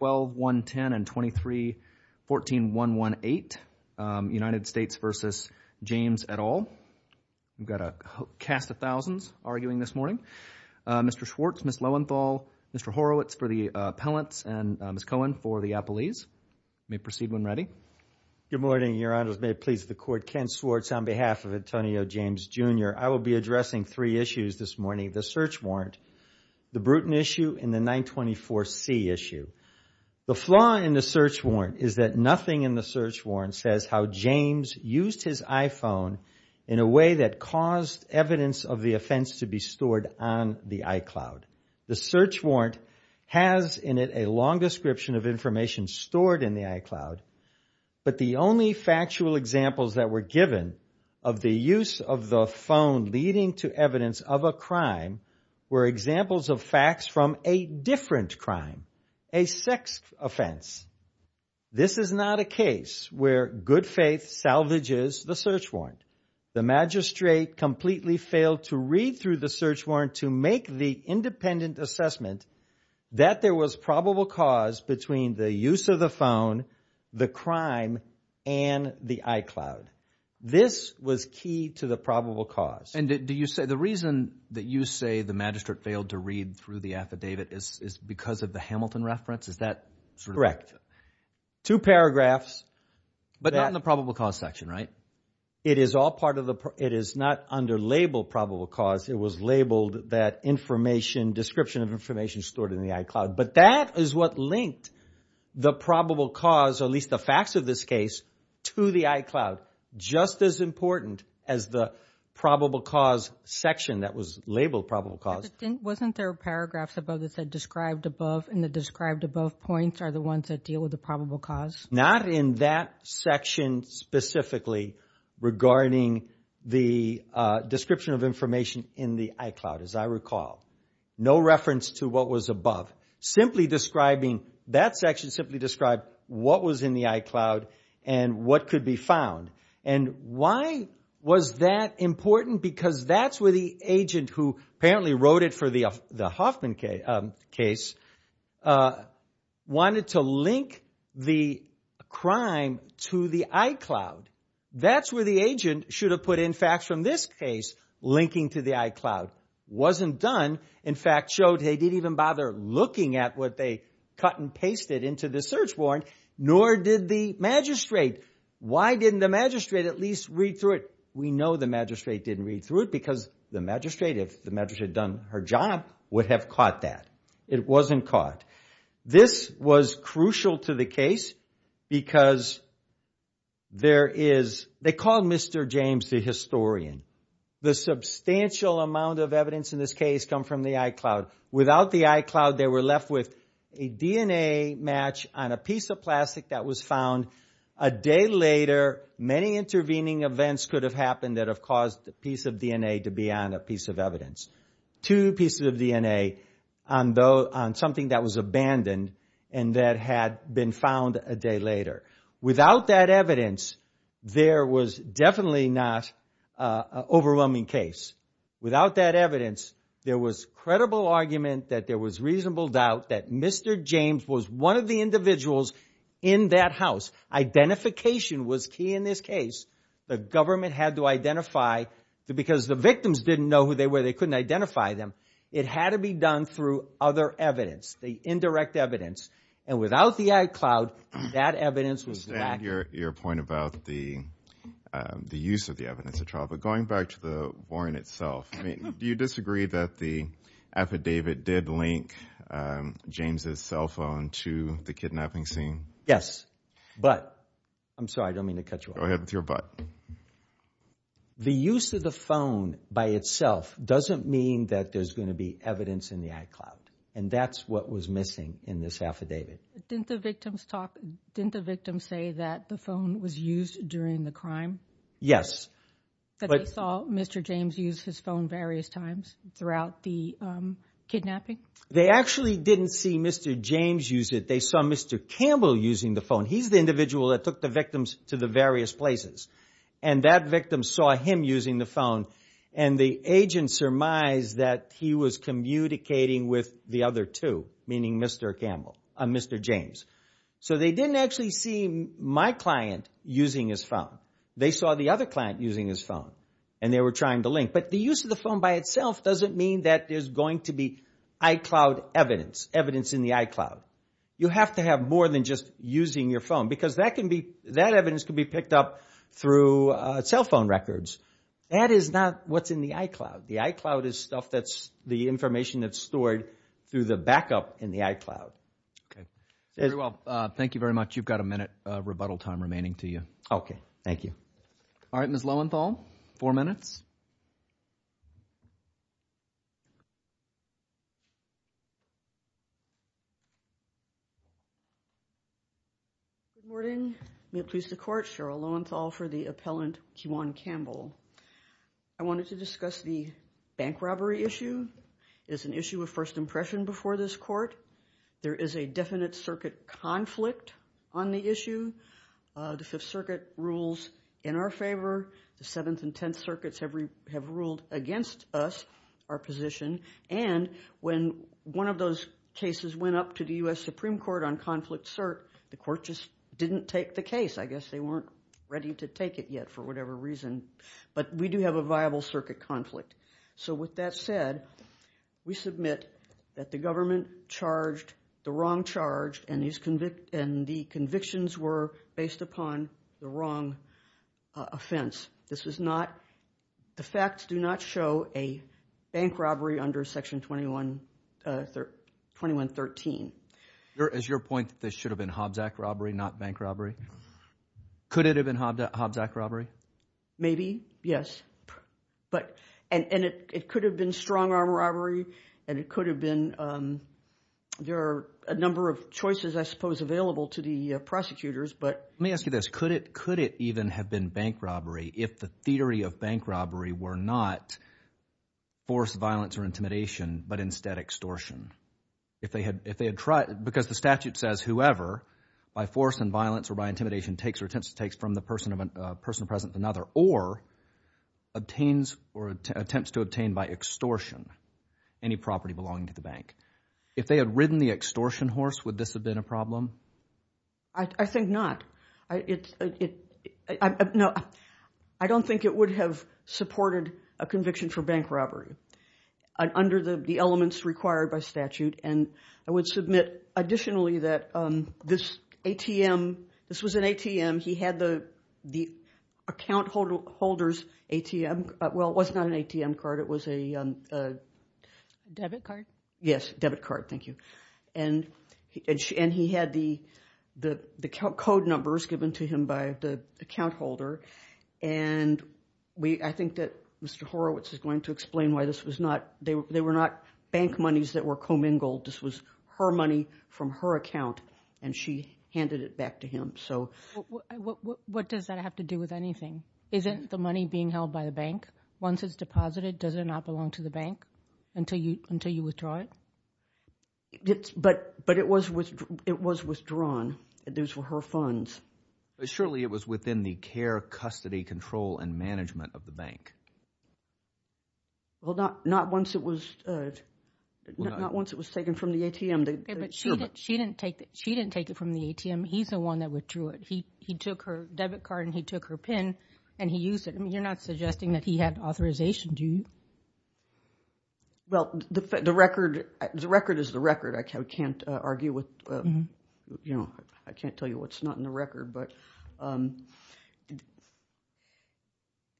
12-110 and 23-14118, United States v. James, et al. We've got a cast of thousands arguing this morning. Mr. Schwartz, Ms. Lowenthal, Mr. Horowitz for the Appellants, and Ms. Cohen for the Appellees. You may proceed when ready. Good morning, Your Honors. May it please the Court. Ken Schwartz on behalf of Antonio James, Jr. I will be addressing three issues this morning. The Search Warrant, the Bruton Issue, and the 924C Issue. The flaw in the Search Warrant is that nothing in the Search Warrant says how James used his iPhone in a way that caused evidence of the offense to be stored on the iCloud. The Search Warrant has in it a long description of information stored in the iCloud, but the only factual examples that were given of the use of the phone leading to evidence of a crime were examples of facts from a different crime, a sex offense. This is not a case where good faith salvages the Search Warrant. The magistrate completely failed to read through the Search Warrant to make the independent assessment that there was probable cause between the use of the phone, the crime, and the iCloud. This was key to the probable cause. And do you say the reason that you say the magistrate failed to read through the affidavit is because of the Hamilton reference? Is that sort of correct? Correct. Two paragraphs. But not in the probable cause section, right? It is not underlabeled probable cause. It was labeled that description of information stored in the iCloud. But that is what linked the probable cause, or at least the facts of this case, to the iCloud, just as important as the probable cause section that was labeled probable cause. But wasn't there paragraphs above that said described above, and the described above points are the ones that deal with the probable cause? Not in that section specifically regarding the description of information in the iCloud, as I recall. No reference to what was above. Simply describing, that section simply described what was in the iCloud and what could be found. And why was that important? Because that's where the agent who apparently wrote it for the Hoffman case wanted to link the crime to the iCloud. That's where the agent should have put in facts from this case linking to the iCloud. Wasn't done. In fact, showed they didn't even bother looking at what they cut and pasted into the search warrant, nor did the magistrate. Why didn't the magistrate at least read through it? We know the magistrate didn't read through it because the magistrate, if the magistrate had done her job, would have caught that. It wasn't caught. This was crucial to the case because there is, they called Mr. James the historian. The substantial amount of evidence in this case come from the iCloud. Without the iCloud, they were left with a DNA match on a piece of plastic that was found. A day later, many intervening events could have happened that have caused a piece of DNA to be on a piece of evidence. Two pieces of DNA on something that was abandoned and that had been found a day later. Without that evidence, there was definitely not an overwhelming case. Without that evidence, there was credible argument that there was reasonable doubt that Mr. James was one of the individuals in that house. Identification was key in this case. The government had to identify because the victims didn't know who they were. They couldn't identify them. It had to be done through other evidence, the indirect evidence. And without the iCloud, that evidence was lacking. I understand your point about the use of the evidence at trial, but going back to the warrant itself, do you disagree that the affidavit did link James' cell phone to the kidnapping scene? Yes, but I'm sorry, I don't mean to cut you off. Go ahead with your but. The use of the phone by itself doesn't mean that there's going to be evidence in the iCloud, and that's what was missing in this affidavit. Didn't the victim say that the phone was used during the crime? Yes. That they saw Mr. James use his phone various times throughout the kidnapping? They actually didn't see Mr. James use it. They saw Mr. Campbell using the phone. He's the individual that took the victims to the various places, and that victim saw him using the phone, and the agent surmised that he was communicating with the other two, meaning Mr. James. So they didn't actually see my client using his phone. They saw the other client using his phone, and they were trying to link. But the use of the phone by itself doesn't mean that there's going to be iCloud evidence, evidence in the iCloud. You have to have more than just using your phone, because that evidence can be picked up through cell phone records. That is not what's in the iCloud. The iCloud is the information that's stored through the backup in the iCloud. Okay. Very well. Thank you very much. You've got a minute rebuttal time remaining to you. Okay. Thank you. All right, Ms. Lowenthal, four minutes. Good morning. May it please the Court, Cheryl Lowenthal for the appellant Kiwan Campbell. I wanted to discuss the bank robbery issue. It's an issue of first impression before this Court. There is a definite circuit conflict on the issue. The Fifth Circuit rules in our favor. The Seventh and Tenth Circuits have ruled against us, our position. And when one of those cases went up to the U.S. Supreme Court on conflict cert, the Court just didn't take the case. I guess they weren't ready to take it yet for whatever reason. But we do have a viable circuit conflict. So with that said, we submit that the government charged the wrong charge, and the convictions were based upon the wrong offense. The facts do not show a bank robbery under Section 2113. Is your point that this should have been Hobbs Act robbery, not bank robbery? Could it have been Hobbs Act robbery? Maybe, yes. And it could have been strong-arm robbery, and it could have been – there are a number of choices, I suppose, available to the prosecutors. Let me ask you this. Could it even have been bank robbery if the theory of bank robbery were not force, violence, or intimidation, but instead extortion? Because the statute says whoever, by force and violence or by intimidation, takes or attempts to take from the person present to another or attempts to obtain by extortion any property belonging to the bank. If they had ridden the extortion horse, would this have been a problem? I think not. I don't think it would have supported a conviction for bank robbery under the elements required by statute. And I would submit additionally that this ATM – this was an ATM. He had the account holder's ATM – well, it was not an ATM card. It was a – Debit card? Yes, debit card. Thank you. And he had the code numbers given to him by the account holder, and I think that Mr. Horowitz is going to explain why this was not – they were not bank monies that were commingled. This was her money from her account, and she handed it back to him. What does that have to do with anything? Isn't the money being held by the bank? Once it's deposited, does it not belong to the bank until you withdraw it? But it was withdrawn. Those were her funds. Surely it was within the care, custody, control, and management of the bank. Well, not once it was taken from the ATM. She didn't take it from the ATM. He's the one that withdrew it. He took her debit card, and he took her PIN, and he used it. I mean, you're not suggesting that he had authorization, do you? Well, the record is the record. I can't argue with – you know, I can't tell you what's not in the record. I'm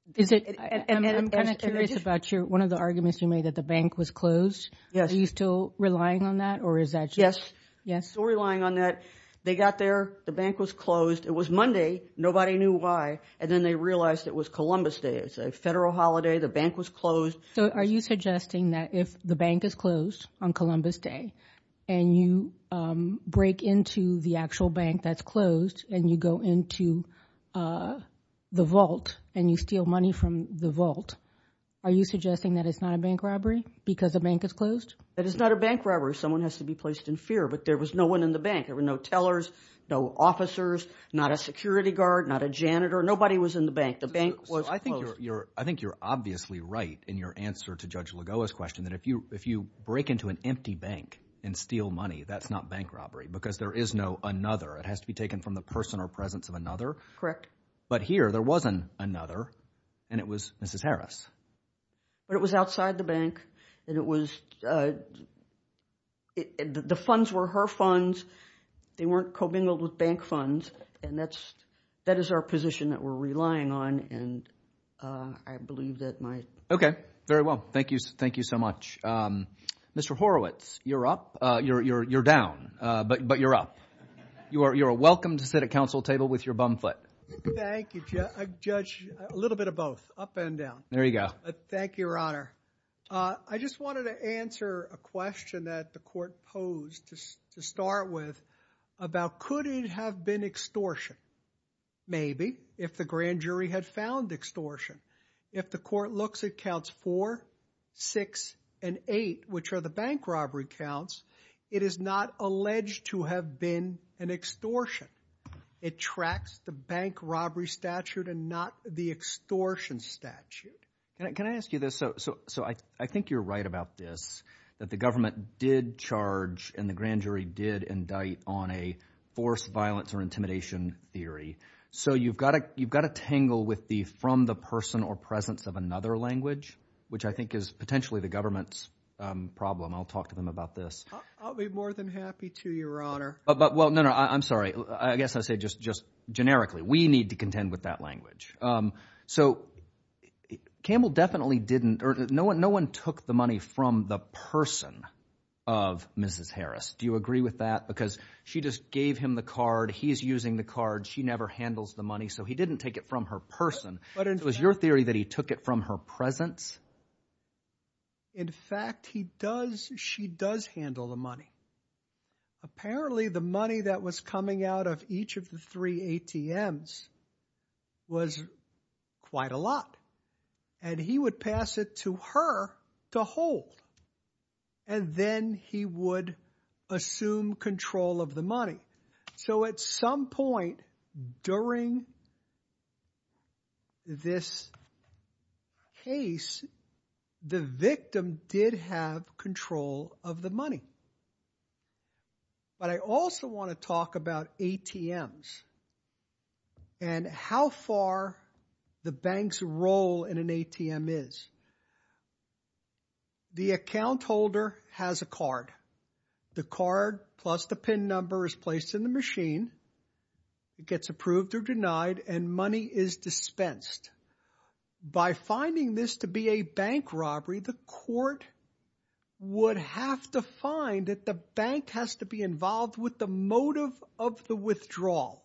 kind of curious about one of the arguments you made, that the bank was closed. Are you still relying on that, or is that just – Yes, still relying on that. They got there. The bank was closed. It was Monday. Nobody knew why. And then they realized it was Columbus Day. It's a federal holiday. The bank was closed. So are you suggesting that if the bank is closed on Columbus Day, and you break into the actual bank that's closed, and you go into the vault, and you steal money from the vault, are you suggesting that it's not a bank robbery because the bank is closed? That it's not a bank robbery. Someone has to be placed in fear, but there was no one in the bank. There were no tellers, no officers, not a security guard, not a janitor. Nobody was in the bank. The bank was closed. So I think you're obviously right in your answer to Judge Lagoa's question that if you break into an empty bank and steal money, that's not bank robbery because there is no another. It has to be taken from the person or presence of another. Correct. But here there wasn't another, and it was Mrs. Harris. But it was outside the bank, and it was the funds were her funds. They weren't co-bingled with bank funds, and that is our position that we're relying on, and I believe that my. Okay. Very well. Thank you so much. Mr. Horowitz, you're up. You're down, but you're up. You are welcome to sit at council table with your bum foot. Thank you, Judge. A little bit of both, up and down. There you go. Thank you, Your Honor. I just wanted to answer a question that the court posed to start with about could it have been extortion? Maybe if the grand jury had found extortion. If the court looks, it counts four, six, and eight, which are the bank robbery counts. It is not alleged to have been an extortion. It tracks the bank robbery statute and not the extortion statute. Can I ask you this? So I think you're right about this, that the government did charge and the grand jury did indict on a forced violence or intimidation theory. So you've got to tangle with the from the person or presence of another language, which I think is potentially the government's problem. I'll talk to them about this. I'll be more than happy to, Your Honor. Well, no, no. I'm sorry. I guess I'll say just generically. We need to contend with that language. So Campbell definitely didn't. No one took the money from the person of Mrs. Harris. Do you agree with that? Because she just gave him the card. He's using the card. She never handles the money. So he didn't take it from her person. Was your theory that he took it from her presence? In fact, he does. She does handle the money. Apparently the money that was coming out of each of the three ATMs was quite a lot. And he would pass it to her to hold. And then he would assume control of the money. So at some point during this case, the victim did have control of the money. But I also want to talk about ATMs and how far the bank's role in an ATM is. The account holder has a card. The card plus the PIN number is placed in the machine. It gets approved or denied and money is dispensed. By finding this to be a bank robbery, the court would have to find that the bank has to be involved with the motive of the withdrawal.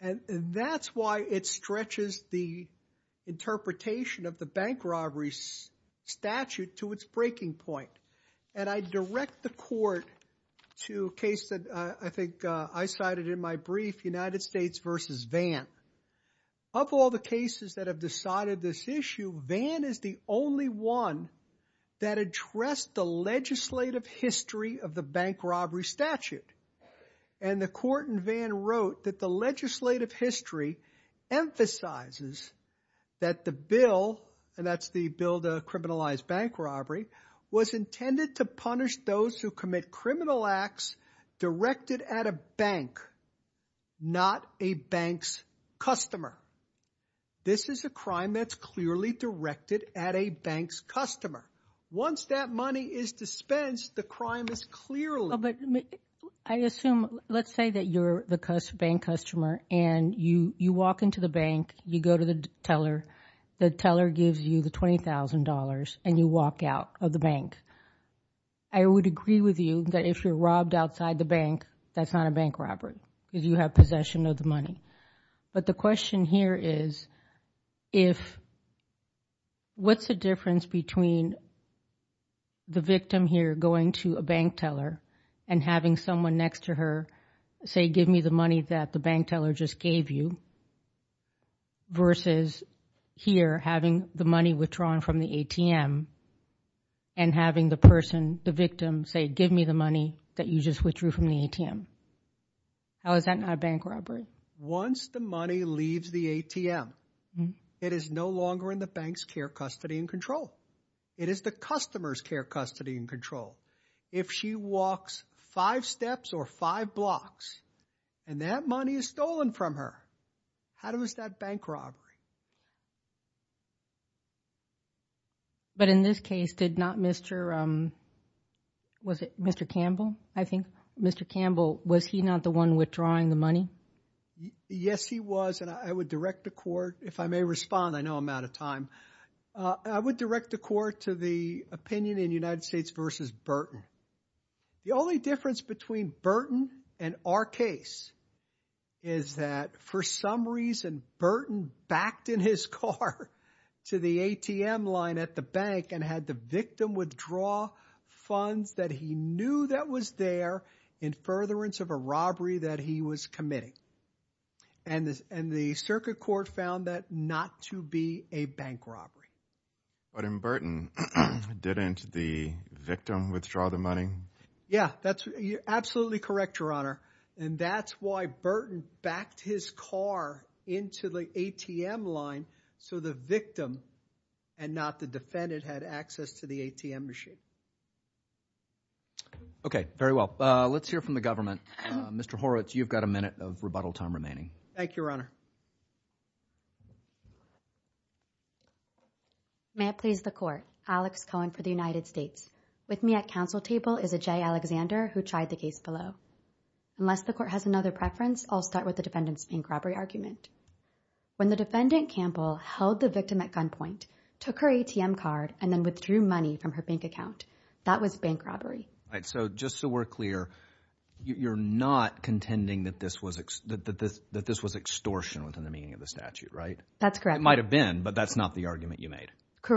And that's why it stretches the interpretation of the bank robbery statute to its breaking point. And I direct the court to a case that I think I cited in my brief, United States v. Vann. Of all the cases that have decided this issue, Vann is the only one that addressed the legislative history of the bank robbery statute. And the court in Vann wrote that the legislative history emphasizes that the bill, and that's the bill to criminalize bank robbery, was intended to punish those who commit criminal acts directed at a bank, not a bank's customer. This is a crime that's clearly directed at a bank's customer. Once that money is dispensed, the crime is clearly... But I assume, let's say that you're the bank customer and you walk into the bank, you go to the teller, the teller gives you the $20,000 and you walk out of the bank. I would agree with you that if you're robbed outside the bank, that's not a bank robbery because you have possession of the money. But the question here is, what's the difference between the victim here going to a bank teller and having someone next to her say, give me the money that the bank teller just gave you, versus here having the money withdrawn from the ATM and having the person, the victim, say, give me the money that you just withdrew from the ATM? How is that not a bank robbery? Once the money leaves the ATM, it is no longer in the bank's care, custody, and control. It is the customer's care, custody, and control. If she walks five steps or five blocks and that money is stolen from her, how is that bank robbery? But in this case, did not Mr., was it Mr. Campbell, I think? Mr. Campbell, was he not the one withdrawing the money? Yes, he was, and I would direct the court, if I may respond, I know I'm out of time. I would direct the court to the opinion in United States versus Burton. The only difference between Burton and our case is that for some reason, Burton backed in his car to the ATM line at the bank and had the victim withdraw funds that he knew that was there in furtherance of a robbery that he was committing. And the circuit court found that not to be a bank robbery. But in Burton, didn't the victim withdraw the money? Yeah, that's absolutely correct, Your Honor. And that's why Burton backed his car into the ATM line so the victim and not the defendant had access to the ATM machine. Okay, very well. Let's hear from the government. Mr. Horowitz, you've got a minute of rebuttal time remaining. Thank you, Your Honor. May it please the court, Alex Cohen for the United States. With me at council table is Ajay Alexander, who tried the case below. Unless the court has another preference, I'll start with the defendant's bank robbery argument. When the defendant, Campbell, held the victim at gunpoint, took her ATM card, and then withdrew money from her bank account, that was bank robbery. All right, so just so we're clear, you're not contending that this was extortion within the meaning of the statute, right? That's correct. It might have been, but that's not the argument you made.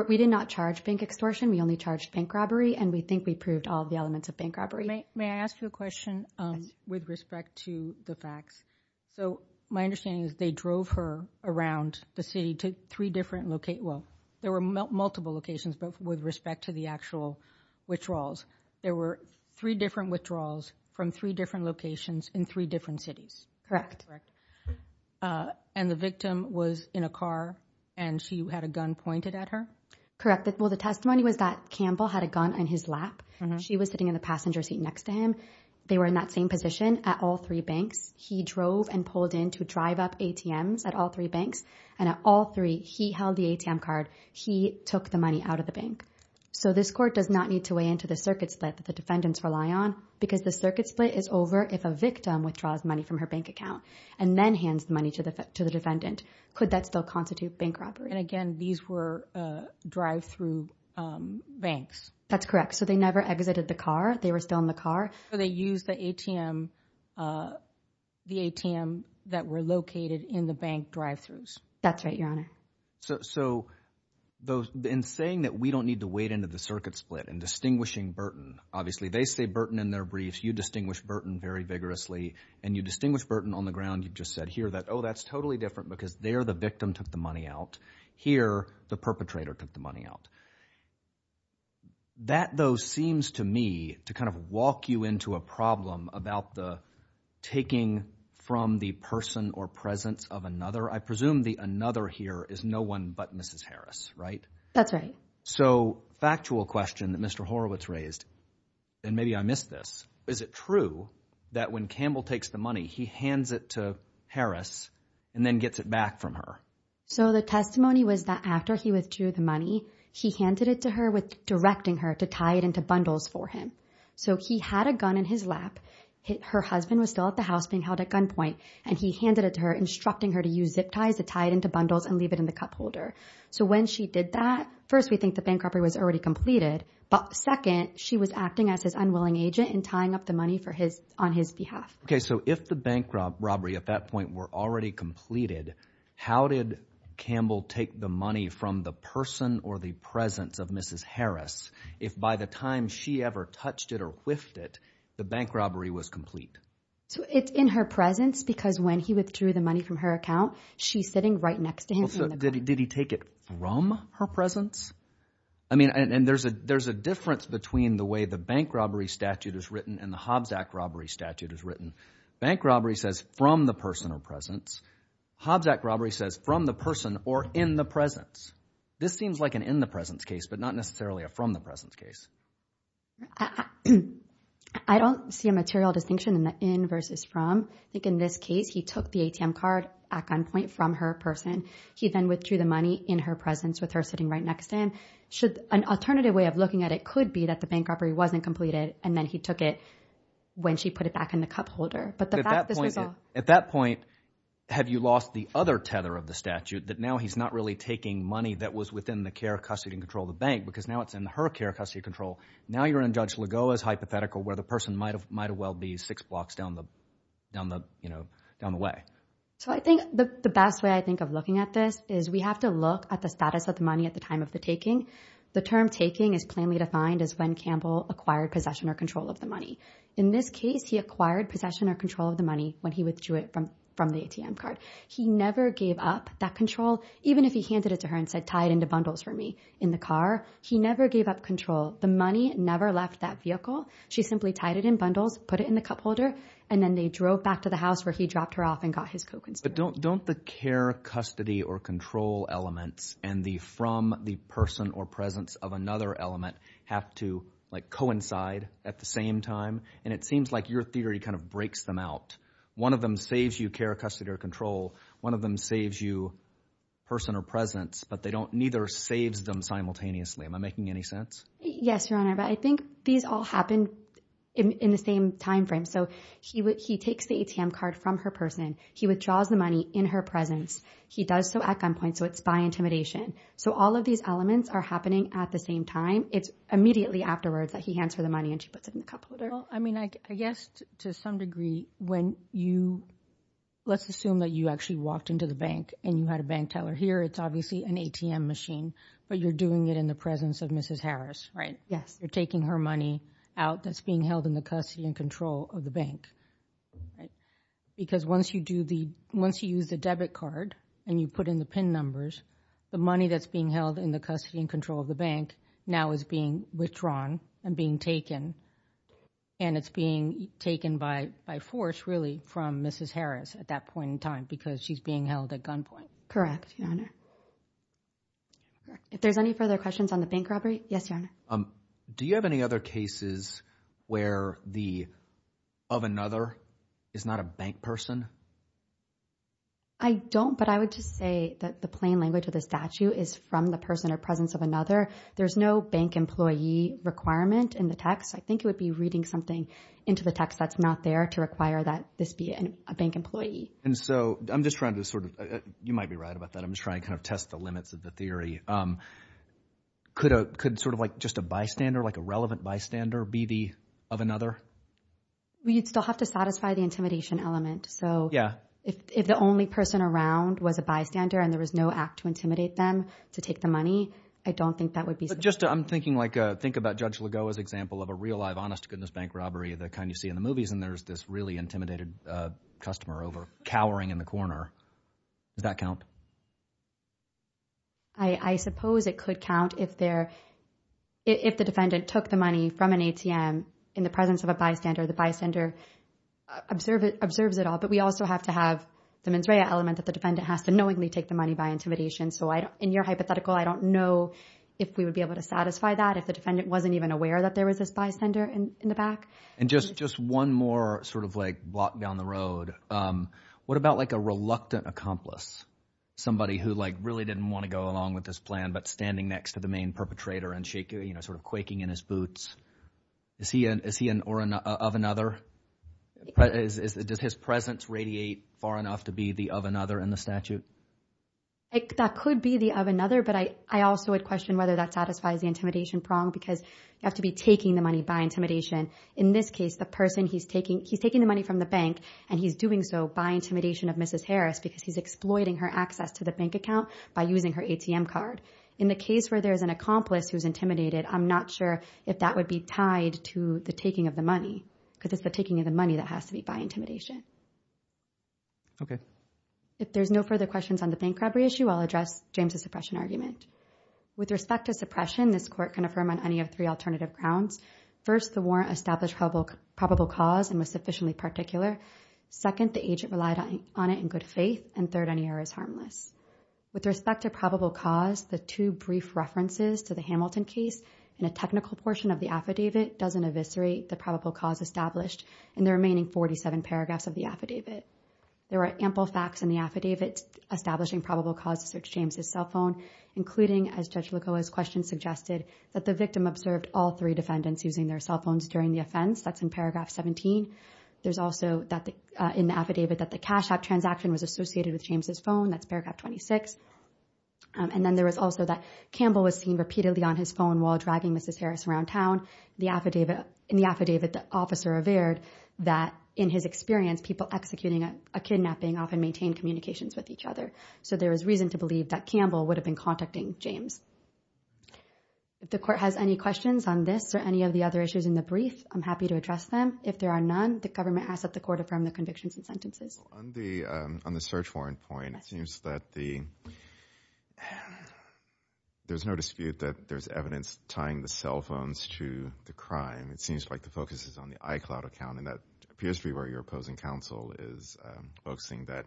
We did not charge bank extortion. We only charged bank robbery, and we think we proved all of the elements of bank robbery. May I ask you a question with respect to the facts? So my understanding is they drove her around the city to three different locations. Well, there were multiple locations, but with respect to the actual withdrawals, there were three different withdrawals from three different locations in three different cities. And the victim was in a car, and she had a gun pointed at her? Correct. Well, the testimony was that Campbell had a gun in his lap. She was sitting in the passenger seat next to him. They were in that same position at all three banks. He drove and pulled in to drive up ATMs at all three banks, and at all three, he held the ATM card. He took the money out of the bank. So this court does not need to weigh in to the circuit split that the defendants rely on because the circuit split is over if a victim withdraws money from her bank account and then hands the money to the defendant. Could that still constitute bank robbery? And again, these were drive-through banks. That's correct. So they never exited the car. They were still in the car. Or they used the ATM that were located in the bank drive-throughs. That's right, Your Honor. So in saying that we don't need to weigh in to the circuit split and distinguishing Burton, obviously they say Burton in their briefs. You distinguish Burton very vigorously, and you distinguish Burton on the ground. You just said here that, oh, that's totally different because there the victim took the money out. Here the perpetrator took the money out. That, though, seems to me to kind of walk you into a problem about the taking from the person or presence of another. I presume the another here is no one but Mrs. Harris, right? That's right. So factual question that Mr. Horowitz raised, and maybe I missed this, is it true that when Campbell takes the money, he hands it to Harris and then gets it back from her? So the testimony was that after he withdrew the money, he handed it to her with directing her to tie it into bundles for him. So he had a gun in his lap. Her husband was still at the house being held at gunpoint, and he handed it to her instructing her to use zip ties to tie it into bundles and leave it in the cup holder. So when she did that, first we think the bank robbery was already completed, but second, she was acting as his unwilling agent and tying up the money on his behalf. Okay, so if the bank robbery at that point were already completed, how did Campbell take the money from the person or the presence of Mrs. Harris if by the time she ever touched it or whiffed it, the bank robbery was complete? So it's in her presence because when he withdrew the money from her account, she's sitting right next to him in the cup. Did he take it from her presence? I mean, and there's a difference between the way the bank robbery statute is written and the Hobbs Act robbery statute is written. Bank robbery says from the person or presence. Hobbs Act robbery says from the person or in the presence. This seems like an in the presence case, but not necessarily a from the presence case. I don't see a material distinction in the in versus from. I think in this case, he took the ATM card at gunpoint from her person. He then withdrew the money in her presence with her sitting right next to him. An alternative way of looking at it could be that the bank robbery wasn't completed and then he took it when she put it back in the cup holder. At that point, have you lost the other tether of the statute that now he's not really taking money that was within the care, custody, and control of the bank because now it's in her care, custody, and control. Now you're in Judge Lagoa's hypothetical where the person might as well be six blocks down the way. So I think the best way I think of looking at this is we have to look at the status of the money at the time of the taking. The term taking is plainly defined as when Campbell acquired possession or control of the money. In this case, he acquired possession or control of the money when he withdrew it from the ATM card. He never gave up that control, even if he handed it to her and said, tie it into bundles for me in the car. He never gave up control. The money never left that vehicle. She simply tied it in bundles, put it in the cup holder, and then they drove back to the house where he dropped her off and got his co-consumer. But don't the care, custody, or control elements and the from the person or presence of another element have to coincide at the same time? And it seems like your theory kind of breaks them out. One of them saves you care, custody, or control. One of them saves you person or presence, but neither saves them simultaneously. Am I making any sense? Yes, Your Honor, but I think these all happen in the same time frame. So he takes the ATM card from her person. He withdraws the money in her presence. He does so at gunpoint, so it's by intimidation. So all of these elements are happening at the same time. It's immediately afterwards that he hands her the money and she puts it in the cup holder. Well, I mean, I guess to some degree when you, let's assume that you actually walked into the bank and you had a bank teller here. It's obviously an ATM machine, but you're doing it in the presence of Mrs. Harris, right? Yes. You're taking her money out that's being held in the custody and control of the bank. Because once you use the debit card and you put in the PIN numbers, the money that's being held in the custody and control of the bank now is being withdrawn and being taken, and it's being taken by force, really, from Mrs. Harris at that point in time because she's being held at gunpoint. Correct, Your Honor. If there's any further questions on the bank robbery, yes, Your Honor. Do you have any other cases where the of another is not a bank person? I don't, but I would just say that the plain language of the statute is from the person or presence of another. There's no bank employee requirement in the text. I think it would be reading something into the text that's not there to require that this be a bank employee. And so I'm just trying to sort of – you might be right about that. I'm just trying to kind of test the limits of the theory. Could sort of like just a bystander, like a relevant bystander, be the of another? Well, you'd still have to satisfy the intimidation element. So if the only person around was a bystander and there was no act to intimidate them to take the money, I don't think that would be sufficient. But just I'm thinking like think about Judge Lagoa's example of a real-life honest-to-goodness bank robbery the kind you see in the movies, and there's this really intimidated customer over cowering in the corner. Does that count? I suppose it could count if the defendant took the money from an ATM in the presence of a bystander. The bystander observes it all. But we also have to have the mens rea element that the defendant has to knowingly take the money by intimidation. So in your hypothetical, I don't know if we would be able to satisfy that if the defendant wasn't even aware that there was this bystander in the back. And just one more sort of like block down the road. What about like a reluctant accomplice, somebody who like really didn't want to go along with this plan but standing next to the main perpetrator and sort of quaking in his boots? Is he of another? Does his presence radiate far enough to be the of another in the statute? That could be the of another, but I also would question whether that satisfies the intimidation prong because you have to be taking the money by intimidation. In this case, the person he's taking, he's taking the money from the bank and he's doing so by intimidation of Mrs. Harris because he's exploiting her access to the bank account by using her ATM card. In the case where there's an accomplice who's intimidated, I'm not sure if that would be tied to the taking of the money because it's the taking of the money that has to be by intimidation. Okay. If there's no further questions on the bank robbery issue, I'll address James' suppression argument. With respect to suppression, this court can affirm on any of three alternative grounds. First, the warrant established probable cause and was sufficiently particular. Second, the agent relied on it in good faith. And third, any error is harmless. With respect to probable cause, the two brief references to the Hamilton case and a technical portion of the affidavit doesn't eviscerate the probable cause established in the remaining 47 paragraphs of the affidavit. There are ample facts in the affidavit establishing probable cause to search James' cell phone, including, as Judge Lacoa's question suggested, that the victim observed all three defendants using their cell phones during the offense. That's in paragraph 17. There's also in the affidavit that the cash-out transaction was associated with James' phone. That's paragraph 26. And then there was also that Campbell was seen repeatedly on his phone while dragging Mrs. Harris around town. In the affidavit, the officer averred that, in his experience, people executing a kidnapping often maintain communications with each other. So there is reason to believe that Campbell would have been contacting James. If the court has any questions on this or any of the other issues in the brief, I'm happy to address them. If there are none, the government asks that the court affirm the convictions and sentences. On the search warrant point, it seems that there's no dispute that there's evidence tying the cell phones to the crime. It seems like the focus is on the iCloud account, and that appears to be where your opposing counsel is focusing, that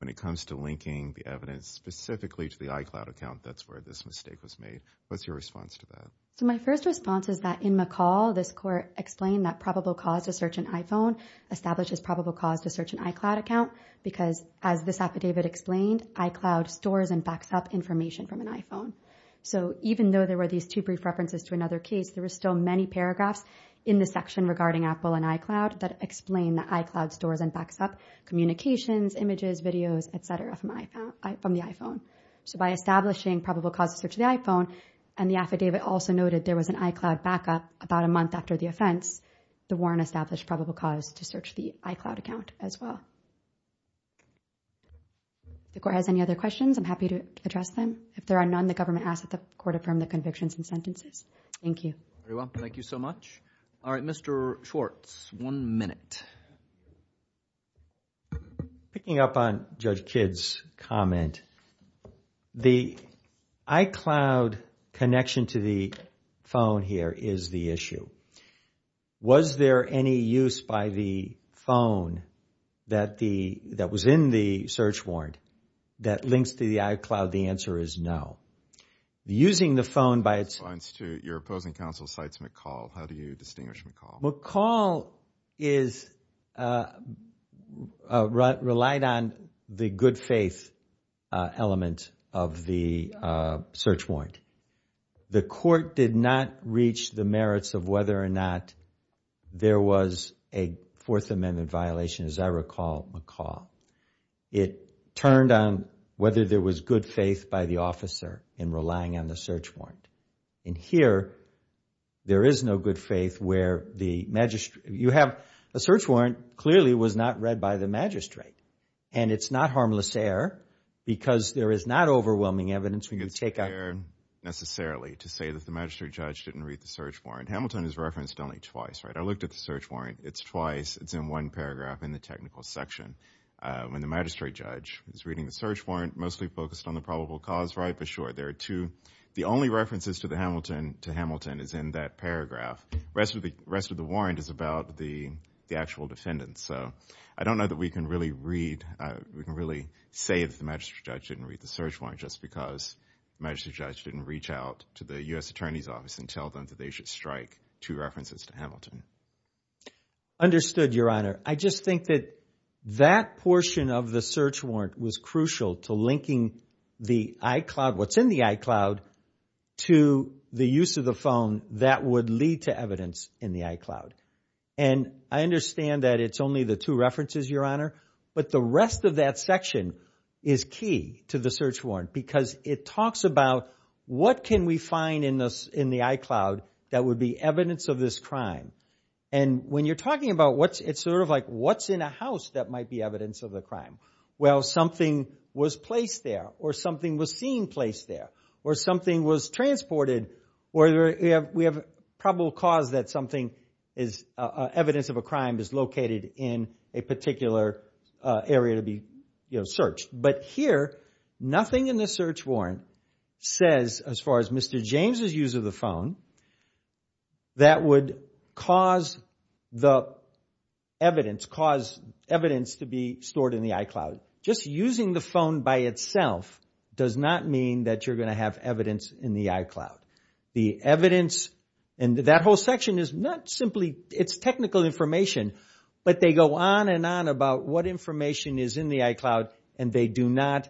when it comes to linking the evidence specifically to the iCloud account, that's where this mistake was made. What's your response to that? My first response is that in McCall, this court explained that probable cause to search an iPhone establishes probable cause to search an iCloud account because, as this affidavit explained, iCloud stores and backs up information from an iPhone. So even though there were these two brief references to another case, there were still many paragraphs in the section regarding Apple and iCloud that explain that iCloud stores and backs up communications, images, videos, et cetera, from the iPhone. So by establishing probable cause to search the iPhone, and the affidavit also noted there was an iCloud backup about a month after the offense, the warrant established probable cause to search the iCloud account as well. If the court has any other questions, I'm happy to address them. If there are none, the government asks that the court affirm the convictions and sentences. Thank you. Thank you so much. All right, Mr. Schwartz, one minute. Picking up on Judge Kidd's comment, the iCloud connection to the phone here is the issue. Was there any use by the phone that was in the search warrant that links to the iCloud? The answer is no. Using the phone by its... Your opposing counsel cites McCall. How do you distinguish McCall? McCall relied on the good faith element of the search warrant. The court did not reach the merits of whether or not there was a Fourth Amendment violation, as I recall, McCall. It turned on whether there was good faith by the officer in relying on the search warrant. And here, there is no good faith where the magistrate... You have a search warrant clearly was not read by the magistrate. And it's not harmless error because there is not overwhelming evidence when you take a... It's fair, necessarily, to say that the magistrate judge didn't read the search warrant. Hamilton is referenced only twice, right? I looked at the search warrant. It's twice. It's in one paragraph in the technical section. When the magistrate judge is reading the search warrant, mostly focused on the probable cause, right? But sure, there are two. The only references to Hamilton is in that paragraph. The rest of the warrant is about the actual defendant. So I don't know that we can really read... We can really say that the magistrate judge didn't read the search warrant just because the magistrate judge didn't reach out to the U.S. Attorney's Office and tell them that they should strike two references to Hamilton. Understood, Your Honor. I just think that that portion of the search warrant was crucial to linking the iCloud... what's in the iCloud to the use of the phone that would lead to evidence in the iCloud. And I understand that it's only the two references, Your Honor. But the rest of that section is key to the search warrant because it talks about what can we find in the iCloud that would be evidence of this crime. And when you're talking about what's... it's sort of like what's in a house that might be evidence of the crime. Well, something was placed there or something was seen placed there or something was transported or we have probable cause that something is... evidence of a crime is located in a particular area to be searched. But here, nothing in the search warrant says, as far as Mr. James' use of the phone, that would cause the evidence... cause evidence to be stored in the iCloud. Just using the phone by itself does not mean that you're going to have evidence in the iCloud. The evidence in that whole section is not simply... it's technical information. But they go on and on about what information is in the iCloud and they do not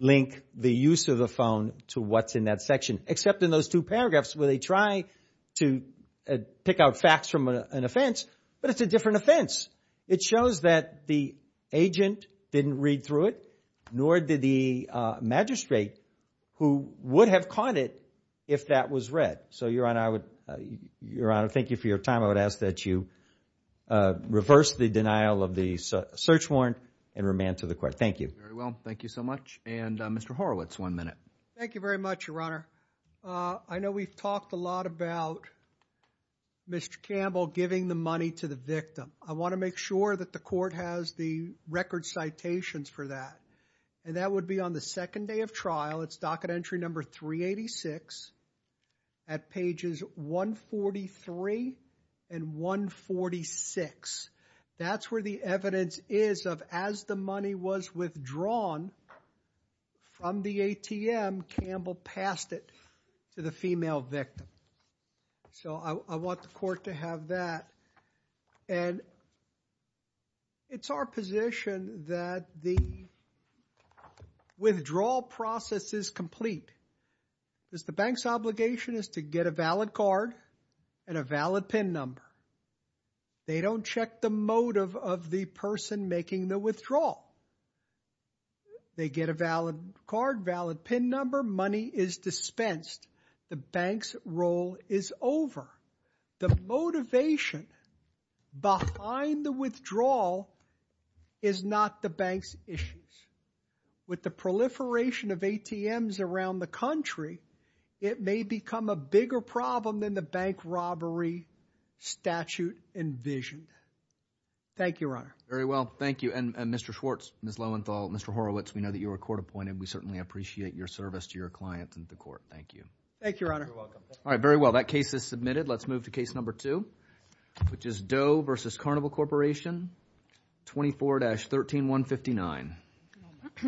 link the use of the phone to what's in that section. Except in those two paragraphs where they try to pick out facts from an offense. But it's a different offense. It shows that the agent didn't read through it, nor did the magistrate who would have caught it if that was read. So, Your Honor, I would... Your Honor, thank you for your time. I would ask that you reverse the denial of the search warrant and remand to the court. Thank you. Very well. Thank you so much. And Mr. Horowitz, one minute. Thank you very much, Your Honor. I know we've talked a lot about Mr. Campbell giving the money to the victim. I want to make sure that the court has the record citations for that. And that would be on the second day of trial. It's docket entry number 386 at pages 143 and 146. That's where the evidence is of as the money was withdrawn from the ATM, Campbell passed it to the female victim. So I want the court to have that. And it's our position that the withdrawal process is complete. Because the bank's obligation is to get a valid card and a valid PIN number. They don't check the motive of the person making the withdrawal. They get a valid card, valid PIN number. Money is dispensed. The bank's role is over. The motivation behind the withdrawal is not the bank's issues. With the proliferation of ATMs around the country, it may become a bigger problem than the bank robbery statute envisioned. Thank you, Your Honor. Very well. Thank you. And Mr. Schwartz, Ms. Lowenthal, Mr. Horowitz, we know that you were court appointed. We certainly appreciate your service to your clients and the court. Thank you. Thank you, Your Honor. All right. Very well. That case is submitted. Let's move to case number two, which is Doe v. Carnival Corporation, 24-13159. Thank you very much.